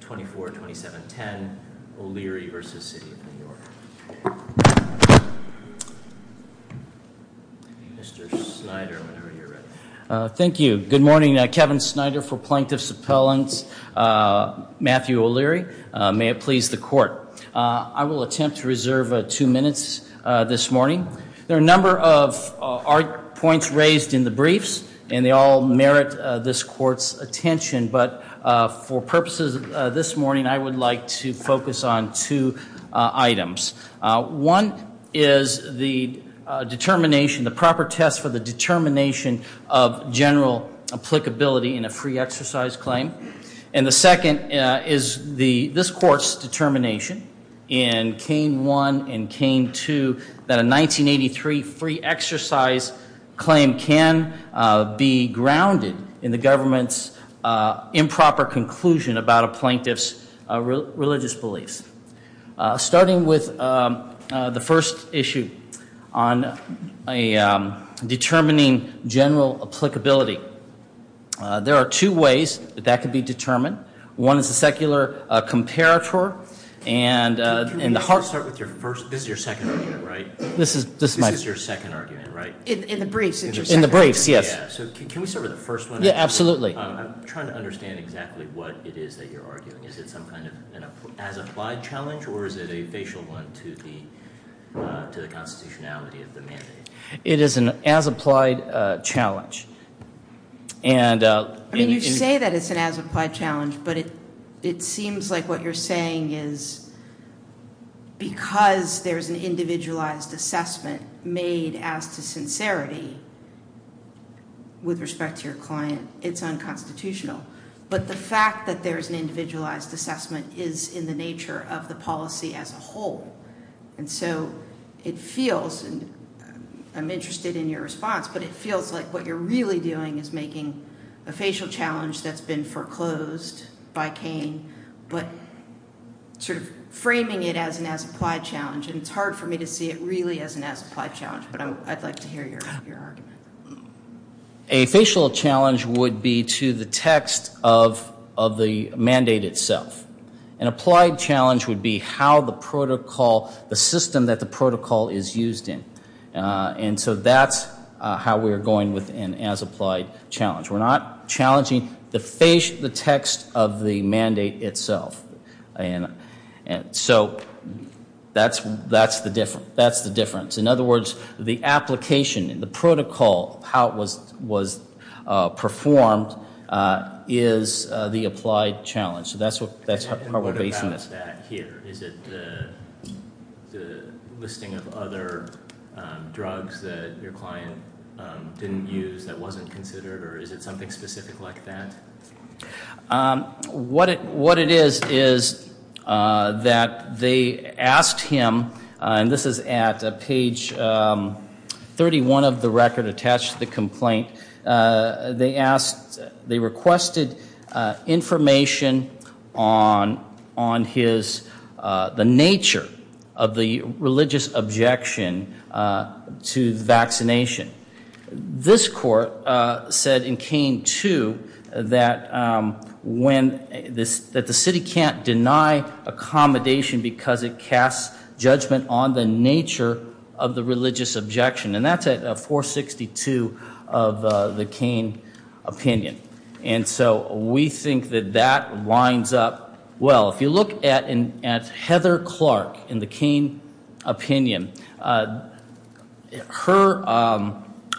24-27-10, O'Leary v. The City of New York. Mr. Snyder, whenever you're ready. Thank you. Good morning. Kevin Snyder for Plaintiff's Appellants. Matthew O'Leary. May it please the Court. I will attempt to reserve two minutes this morning. There are a number of points raised in the briefs, and they all merit this Court's attention, but for purposes this morning, I would like to focus on two items. One is the determination, the proper test for the determination of general applicability in a free exercise claim. And the second is this Court's determination in Kane 1 and Kane 2 that a 1983 free exercise claim can be grounded in the government's improper conclusion about a plaintiff's religious beliefs. Starting with the first issue on determining general applicability, there are two ways that that can be determined. One is the secular comparator. This is your second argument, right? In the briefs, yes. I'm trying to understand exactly what it is that you're arguing. Is it some kind of as-applied challenge, or is it a facial one to the constitutionality of the mandate? It is an as-applied challenge. You say that it's an as-applied challenge, but it seems like what you're saying is because there's an individualized assessment made as to sincerity with respect to your client, it's unconstitutional. But the fact that there's an individualized assessment is in the nature of the policy as a whole. And so it feels and I'm interested in your response, but it feels like what you're really doing is making a facial challenge that's been foreclosed by Kane, but sort of framing it as an as-applied challenge. And it's hard for me to see it really as an as-applied challenge, but I'd like to hear your argument. A facial challenge would be to the text of the mandate itself. An applied challenge would be how the protocol, the system that the protocol is used in. And so that's how we're going with an as-applied challenge. We're not challenging the text of the mandate itself. So that's the difference. In other words, the application, the protocol, how it was performed is the applied challenge. So that's how we're basing this. What about that here? Is it the listing of other drugs that your client didn't use that wasn't considered? Or is it something specific like that? What it is is that they asked him, and this is at page 31 of the record attached to the complaint, they asked, they requested information on his nature of the religious objection to the vaccination. This court said in Kane 2 that the city can't deny accommodation because it casts judgment on the nature of the religious objection. And that's at 462 of the Kane opinion. And so we think that that lines up well. If you look at Heather Clark in the Kane opinion, her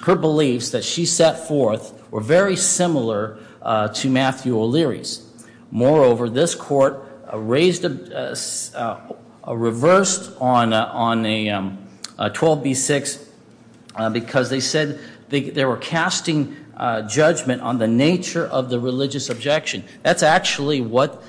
beliefs that she set forth were very similar to Matthew O'Leary's. Moreover, this court reversed on 12B6 because they said they were casting judgment on the nature of the religious objection. That's actually what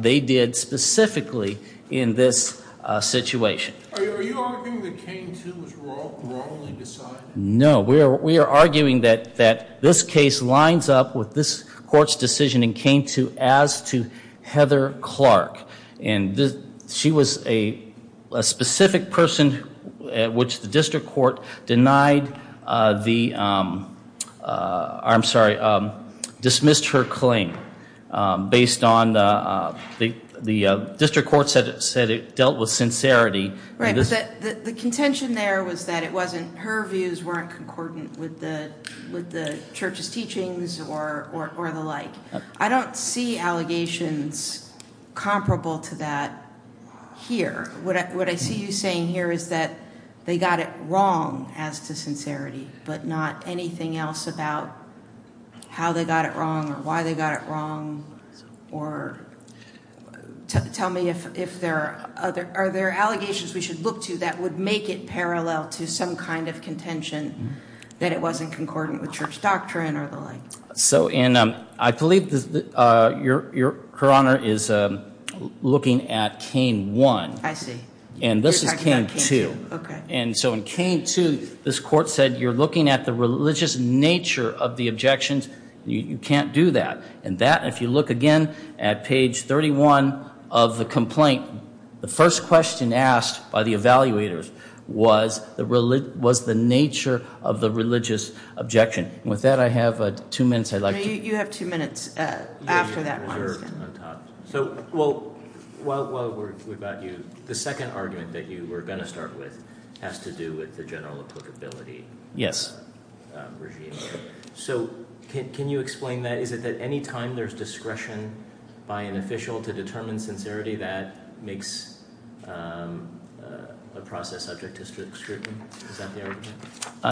they did specifically in this situation. Are you arguing that Kane 2 was wrongly decided? No. We are arguing that this case lines up with this court's decision in Kane 2 as to Heather Clark. And she was a specific person at which the district court denied the, I'm sorry, dismissed her claim based on the district court said it dealt with sincerity. The contention there was that her views weren't concordant with the church's teachings or the like. I don't see allegations comparable to that here. What I see you saying here is that they got it wrong as to sincerity but not anything else about how they got it wrong or why they got it wrong or tell me if there are allegations we should look to that would make it parallel to some kind of contention that it wasn't concordant with church doctrine or the like. I believe Her Honor is looking at Kane 1. I see. And this is Kane 2. And so in Kane 2 this court said you're looking at the religious nature of the objections you can't do that. And that if you look again at page 31 of the complaint, the first question asked by the evaluators was the nature of the religious objection. With that I have two minutes. You have two minutes after that. The second argument that you were going to start with has to do with the general applicability. Yes. So can you explain that? Is it that any time there's discretion by an official to determine sincerity that makes a process subject to scrutiny?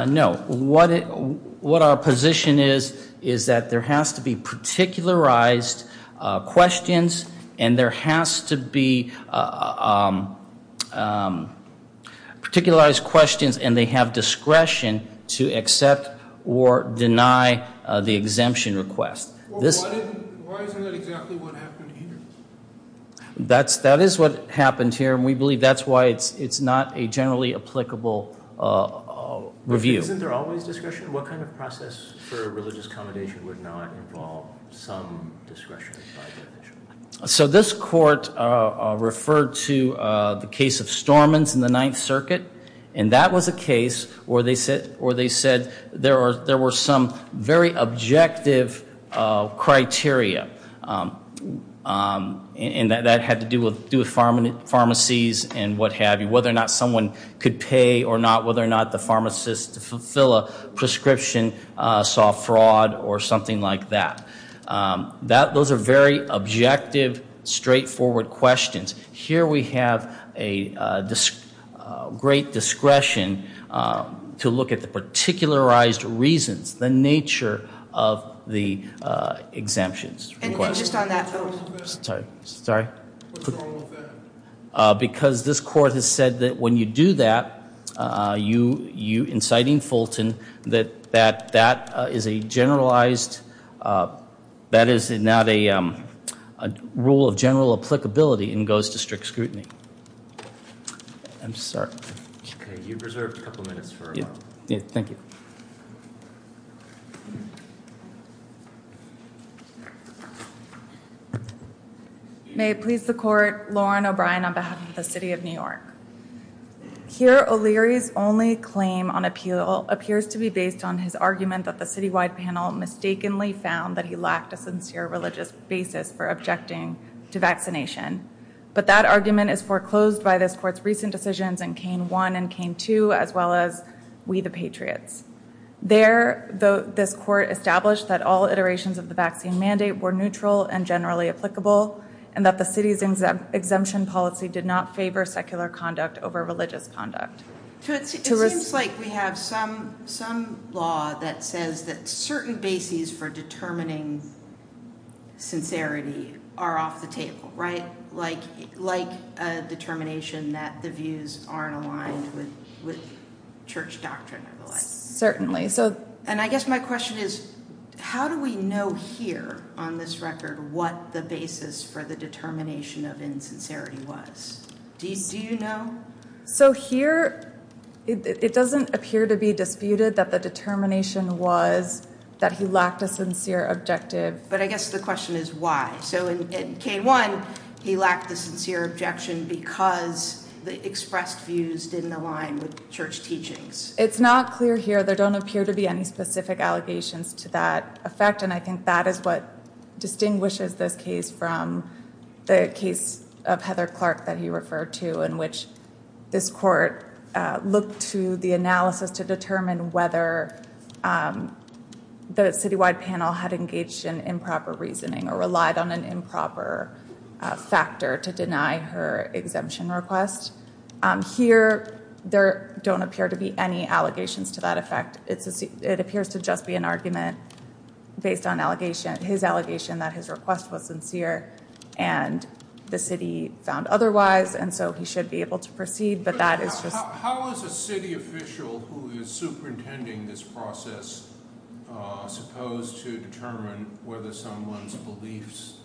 No. What our position is is that there has to be particularized questions and there has to be particularized questions and they have discretion to accept or deny the exemption request. Why isn't that exactly what happened here? That is what happened here and we believe that's why it's not a generally applicable review. Isn't there always discretion? What kind of process for religious commendation would not involve some discretion? So this court referred to the case of Stormins in the 9th Circuit and that was a case where they said there were some very objective criteria and that had to do with pharmacies and what have you. Whether or not someone could pay or not. Whether or not the pharmacist to fulfill a prescription saw fraud or something like that. Those are very objective straightforward questions. Here we have a great discretion to look at the particularized reasons, the nature of the exemptions request. Anything just on that? What's wrong with that? Because this court has said that when you do that you, inciting Fulton, that that is a generalized, that is not a rule of general applicability and goes to strict scrutiny. I'm sorry. May it please the court, Lauren O'Brien on behalf of the City of New York. Here O'Leary's only claim on appeal appears to be based on his argument that the citywide panel mistakenly found that he lacked a sincere religious basis for objecting to vaccination. But that argument is foreclosed by this court's recent decisions in Kane 1 and Kane 2 as well as We the Patriots. There this court established that all iterations of the vaccine mandate were neutral and generally applicable and that the city's exemption policy did not favor secular conduct over religious conduct. It seems like we have some law that says that certain bases for determining sincerity are off the table, right? Like a determination that the views aren't aligned with church doctrine or the like. Certainly. And I guess my question is, how do we know here on this record what the basis for the determination of insincerity was? Do you know? So here it doesn't appear to be disputed that the determination was that he lacked a sincere objective. But I guess the question is why? So in Kane 1, he lacked the sincere objection because the expressed views didn't align with church teachings. It's not clear here. There don't appear to be any specific allegations to that effect and I think that is what distinguishes this case from the case of Heather Clark that he referred to in which this court looked to the analysis to determine whether the city-wide panel had engaged in improper reasoning or relied on an improper factor to deny her exemption request. Here there don't appear to be any allegations to that effect. It appears to just be an argument based on his allegation that his request was sincere and the city found otherwise and so he should be able to proceed. But that is just... How is a city official who is superintending this process supposed to determine whether someone's beliefs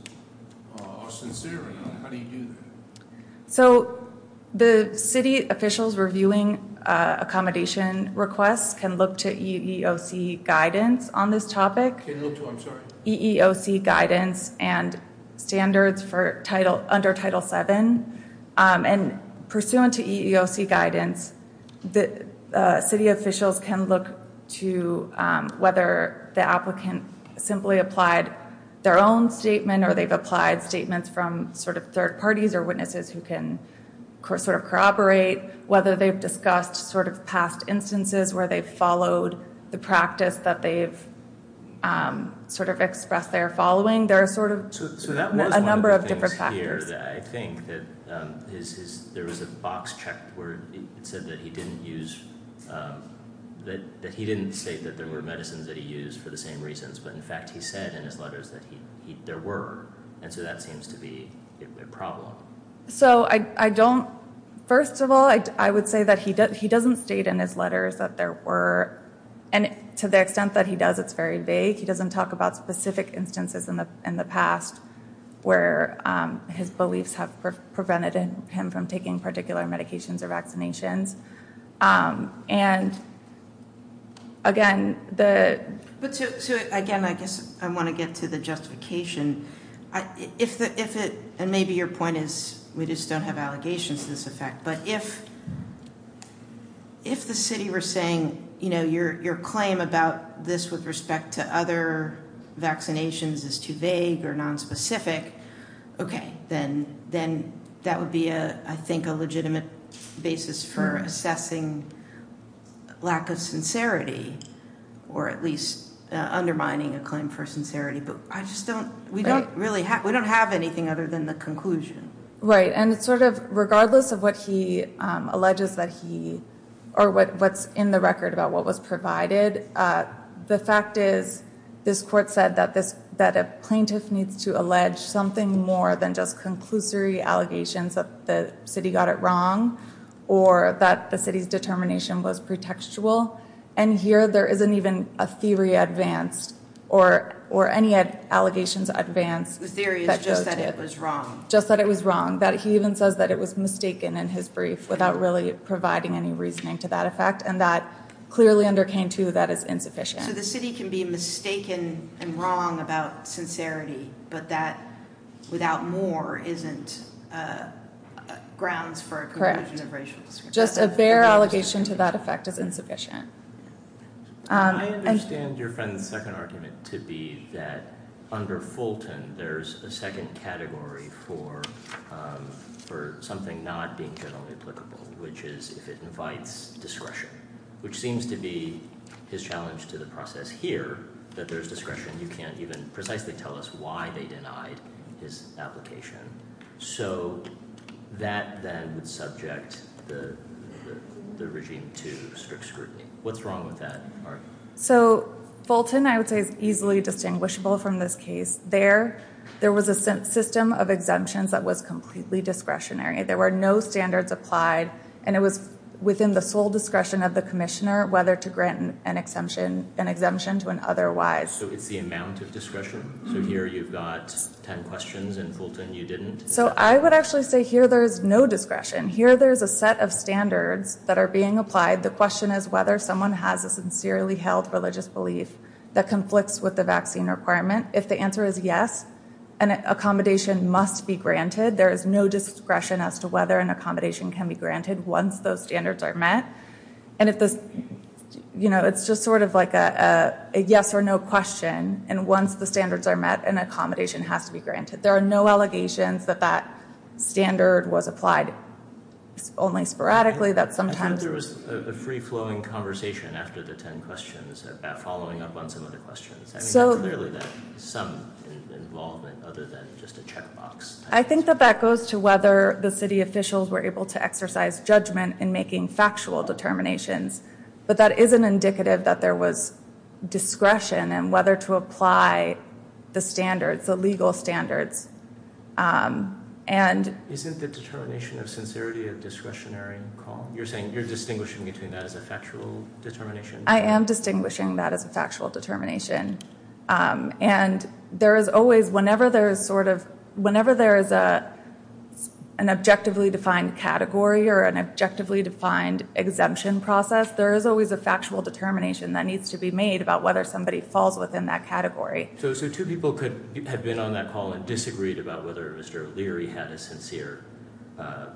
are sincere enough? How do you do that? So the city officials reviewing accommodation requests can look to EEOC guidance on this topic. Can look to, I'm sorry. EEOC guidance and standards under Title 7 and pursuant to EEOC guidance, the city officials can look to whether the applicant simply applied their own statement or they've applied statements from sort of third parties or witnesses who can sort of corroborate whether they've discussed sort of past instances where they've followed the practice that they've sort of expressed their following. There are sort of a number of different factors. I think that there was a box checked where it said that he didn't use, that he didn't state that there were medicines that he used for the same reasons, but in fact he said in his letters that there were. And so that seems to be a problem. So I don't, first of all I would say that he doesn't state in his letters that there were, and to the extent that he does it's very vague. He doesn't talk about specific instances in the past where his beliefs have prevented him from taking particular medications or vaccinations. And again, the... Again, I guess I want to get to the justification. And maybe your point is we just don't have allegations to this effect, but if the city were saying, you know, your claim about this with respect to other vaccinations is too vague or nonspecific, okay, then that would be, I think, a legitimate basis for assessing lack of sincerity or at least undermining a claim for sincerity. But I just don't, we don't really have, we don't have anything other than the conclusion. Right, and it's sort of, regardless of what he alleges that he or what's in the record about what was provided, the fact is this court said that a plaintiff needs to allege something more than just conclusory allegations that the city got it wrong or that the city's determination was pretextual. And here there isn't even a theory advanced or any allegations advanced. The theory is just that it was wrong. Just that it was wrong. That he even says that it was mistaken in his brief without really providing any reasoning to that effect. And that clearly under Kang, too, that is insufficient. So the city can be mistaken and wrong about sincerity, but that without more isn't grounds for a conclusion of racial discrimination. Just a bare allegation to that effect is insufficient. I understand your friend's second argument to be that under Fulton there's a second category for something not being generally applicable, which is if it invites discretion, which seems to be his challenge to the process here that there's discretion. You can't even precisely tell us why they denied his application. So that then would subject the regime to strict scrutiny. What's wrong with that argument? So Fulton, I would say, is easily distinguishable from this case. There was a system of exemptions that was completely discretionary. There were no standards applied and it was within the sole discretion of the commissioner whether to grant an exemption to an otherwise. So it's the amount of discretion? So here you've got ten questions and Fulton you didn't? So I would actually say here there's no discretion. Here there's a set of standards that are being applied. The question is whether someone has a sincerely held religious belief that conflicts with the vaccine requirement. If the answer is yes, an accommodation must be granted. There is no discretion as to whether an accommodation can be granted once those standards are met. And it's just sort of like a yes or no question. And once the standards are met, an accommodation has to be granted. There are no allegations that that standard was applied only sporadically. I think there was a free-flowing conversation after the ten questions about following up on some of the questions. Clearly there's some involvement other than just a check box. I think that that goes to whether the city officials were able to exercise judgment in making factual determinations. But that isn't indicative that there was discretion in whether to apply the standards, the legal standards. Isn't the determination of sincerity a discretionary call? You're saying you're distinguishing between that as a factual determination? I am distinguishing that as a factual determination. And there is always whenever there is an objectively defined category or an objectively defined exemption process, there is always a factual determination that needs to be made about whether somebody falls within that category. So two people could have been on that call and disagreed about whether Mr. O'Leary had a sincere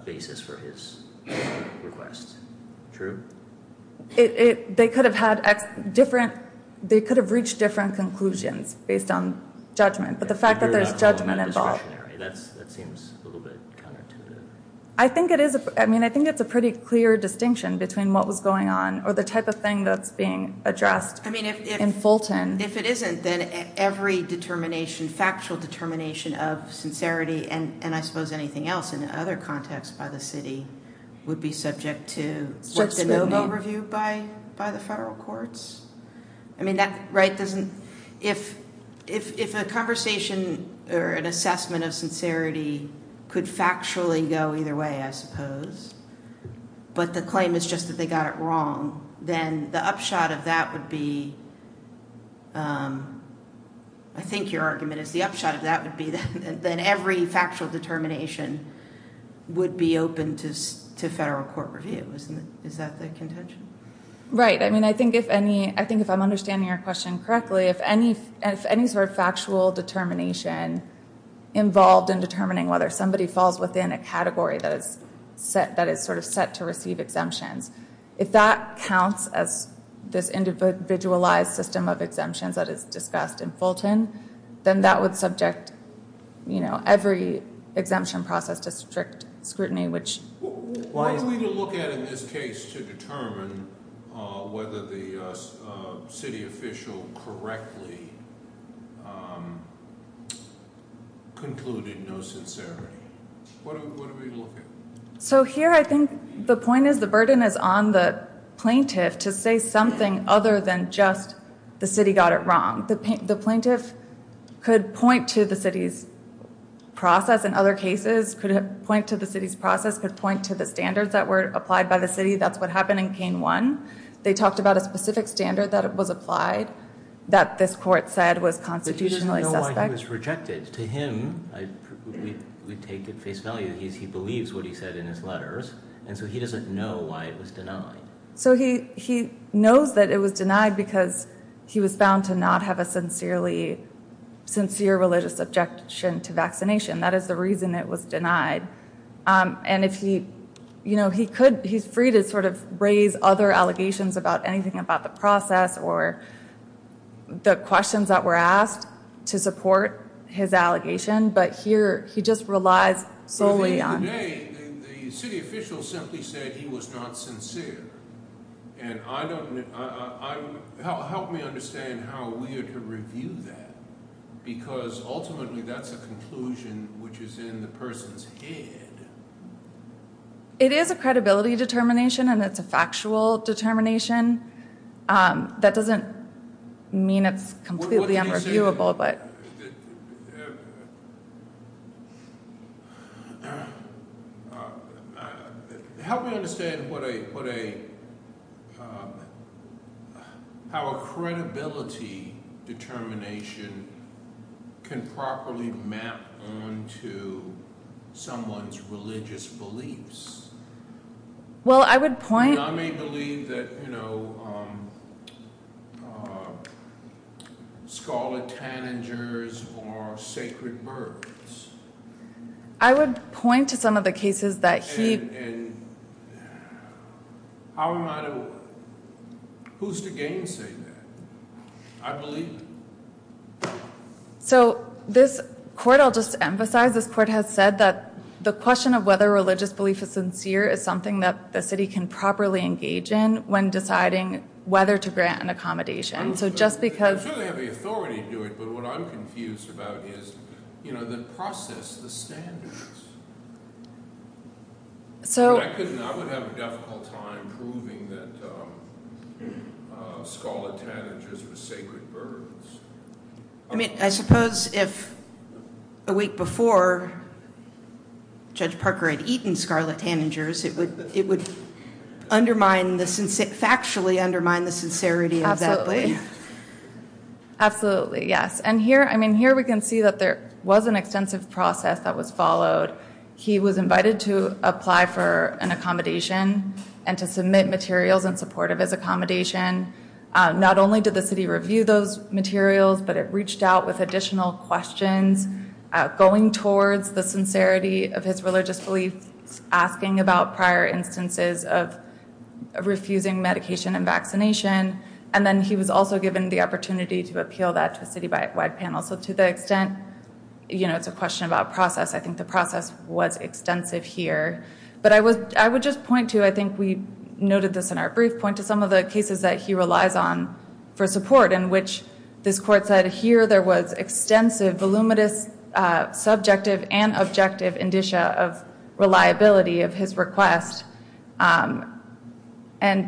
basis for his request. True? They could have reached different conclusions based on judgment. But the fact that there's judgment involved. That seems a little bit counterintuitive. I think it's a pretty clear distinction between what was going on or the type of thing that's being addressed in Fulton. If it isn't, then every factual determination of sincerity and I suppose anything else in other contexts by the city would be subject to an overview by the federal courts? If a conversation or an assessment of sincerity could factually go either way, I suppose, but the claim is just that they got it wrong, then the upshot of that would be I think your argument is the upshot of that would be that every factual determination would be open to federal court review. Is that the contention? Right. I mean, I think if I'm understanding your question correctly, if any sort of factual determination involved in determining whether somebody falls within a category that is sort of set to receive exemptions, if that counts as this individualized system of exemptions that is discussed in Fulton, then that would subject every exemption process to strict scrutiny, which... What are we to look at in this case to determine whether the city official correctly concluded no sincerity? What are we to look at? So here I think the point is the burden is on the plaintiff to say something other than just the city got it wrong. The plaintiff could point to the city's process in other cases, could point to the city's process, could point to the standards that were applied by the city. That's what happened in Cain 1. They talked about a specific standard that was applied that this court said was constitutionally suspect. But he doesn't know why he was rejected. To him, we take at face value, he believes what he said in his letters, and so he doesn't know why it was denied. So he knows that it was denied because he was bound to not have a sincere religious objection to vaccination. That is the reason it was denied. He's free to sort of raise other allegations about anything about the process or the questions that were asked to support his allegation, but here he just relies solely on... Today, the city official simply said he was not sincere. Help me understand how we are to review that because ultimately that's a conclusion which is in the person's head. It is a credibility determination and it's a factual determination. That doesn't mean it's completely unreviewable, but... Help me understand what a... How a credibility determination can properly map onto someone's religious beliefs. Well, I would point... And I may believe that, you know, scholar tanagers are sacred birds. I would point to some of the cases that he... How am I to... Who's to gainsay that? I believe it. So this court, I'll just emphasize, this court has said that the question of whether religious belief is sincere is something that the city can properly engage in when deciding whether to grant an accommodation. So just because... I'm sure they have the authority to do it, but what I'm confused about is the process, the standards. I would have a difficult time proving that scholar tanagers were sacred birds. I mean, I suppose if a week before Judge Parker had eaten scholar tanagers, it would undermine the... Factually undermine the sincerity of that belief. Absolutely. Absolutely, yes. And here, I mean, here we can see that there was an extensive process that was followed. He was invited to apply for an accommodation and to submit materials in support of his accommodation. Not only did the city review those materials, but it reached out with additional questions going towards the sincerity of his religious belief, asking about prior instances of refusing medication and vaccination. And then he was also given the opportunity to appeal that to a citywide panel. So to the extent it's a question about process, I think the process was extensive here. But I would just point to, I think we noted this in our brief, point to some of the cases that he relies on for support, in which this court said here there was extensive, voluminous, subjective and objective indicia of reliability of his request. And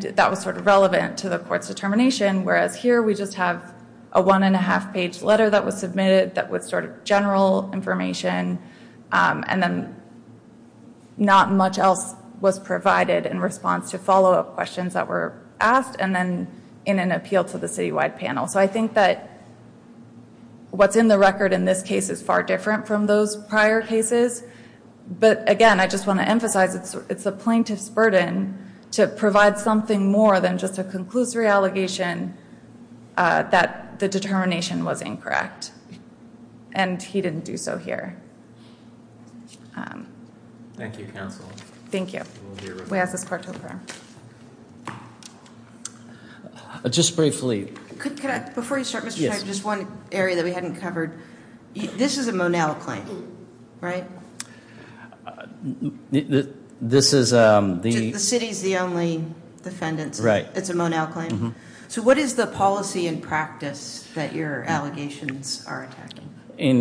that was sort of relevant to the court's determination, whereas here we just have a one and a half page letter that was submitted that was sort of general information and then not much else was provided in response to follow-up questions that were asked and then in an appeal to the citywide panel. So I think that what's in the record in this case is far different from those prior cases. But again, I just want to emphasize it's the plaintiff's burden to provide something more than just a conclusory allegation that the determination was incorrect. And he didn't do so here. Thank you, counsel. Thank you. We ask this court to adjourn. Just briefly. Before you start, Mr. Chairman, just one area that we hadn't covered. This is a Monell claim, right? The city's the only defendant. It's a Monell claim. So what is the policy and practice that your allegations are attacking? In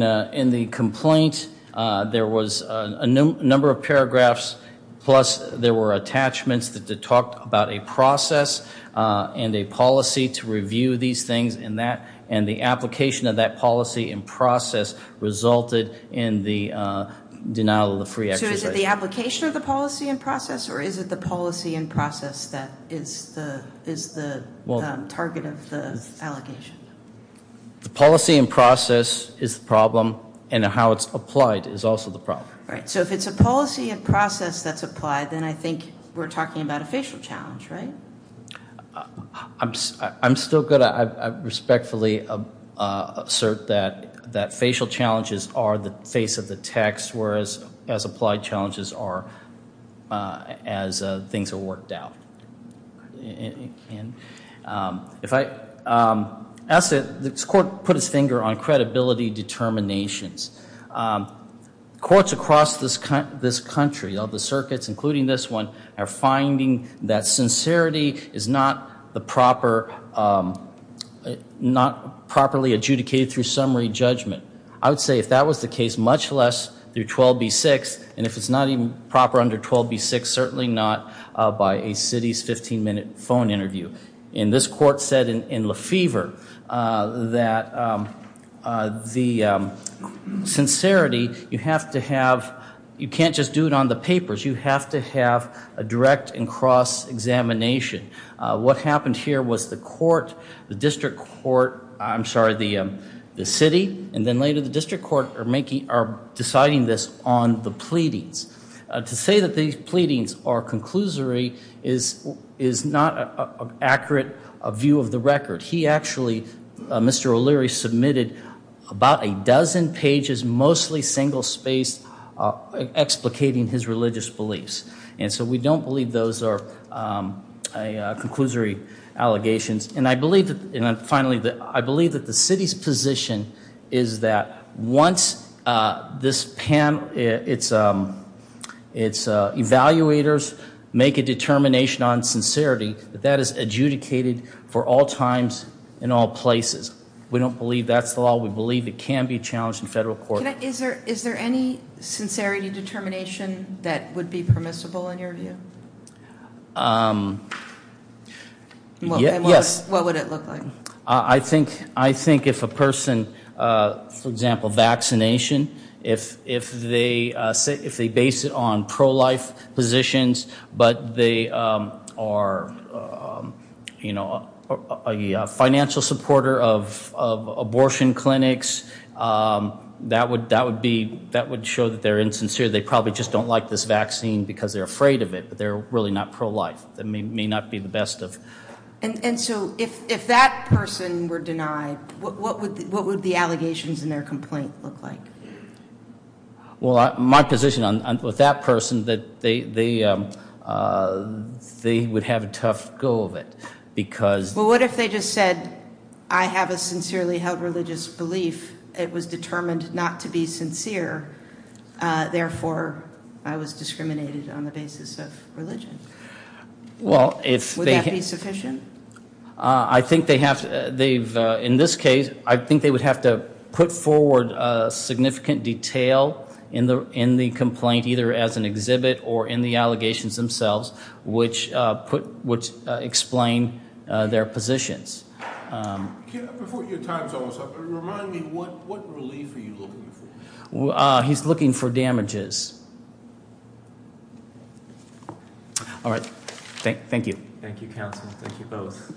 the complaint there was a number of paragraphs plus there were attachments that talked about a process and a policy to review these things and the application of that policy and process resulted in the denial of the free exercise. So is it the application of the policy and process or is it the policy and process that is the target of the allegation? The policy and process is the problem and how it's applied is also the problem. So if it's a policy and process that's applied, then I think we're talking about a facial challenge, right? I'm still good at respectfully assert that facial challenges are the face of the text whereas applied challenges are as things are worked out. If I ask it, this court put its finger on credibility determinations. Courts across this country, all the circuits including this one, are finding that sincerity is not the proper properly adjudicated through summary judgment. I would say if that was the case much less through 12b-6 and if it's not even proper under 12b-6 certainly not by a city's 15 minute phone interview. And this court said in Lefevre that the sincerity, you have to have you can't just do it on the papers. You have to have a direct and cross examination. What happened here was the court the district court, I'm sorry, the city and then later the district court are deciding this on the pleadings. To say that these pleadings are conclusory is not an accurate view of the record. He actually Mr. O'Leary submitted about a dozen pages mostly single spaced explicating his religious beliefs. And so we don't believe those are conclusory allegations. And I believe that the city's position is that once this panel, it's evaluators make a determination on sincerity that that is adjudicated for all times and all places. We don't believe that's the law. We believe it can be challenged in federal court. Is there any sincerity determination that would be permissible in your view? Yes. What would it look like? I think if a person for example, vaccination, if they base it on pro-life positions but they are a financial supporter of abortion clinics that would show that they're insincere. They probably just don't like this vaccine because they're afraid of it. But they're really not pro-life. That may not be the best of... And so if that person were denied, what would the allegations in their complaint look like? Well, my position with that person they would have a tough go of it because... Well, what if they just said, I have a sincerely held religious belief. It was determined not to be sincere. Therefore, I was discriminated on the basis of religion. Would that be sufficient? I think they have to... In this case, I think they would have to put forward significant detail in the complaint either as an exhibit or in the allegations themselves which explain their positions. Before your time is almost up, remind me what relief are you looking for? He's looking for damages. All right. Thank you. Thank you, counsel. Thank you both.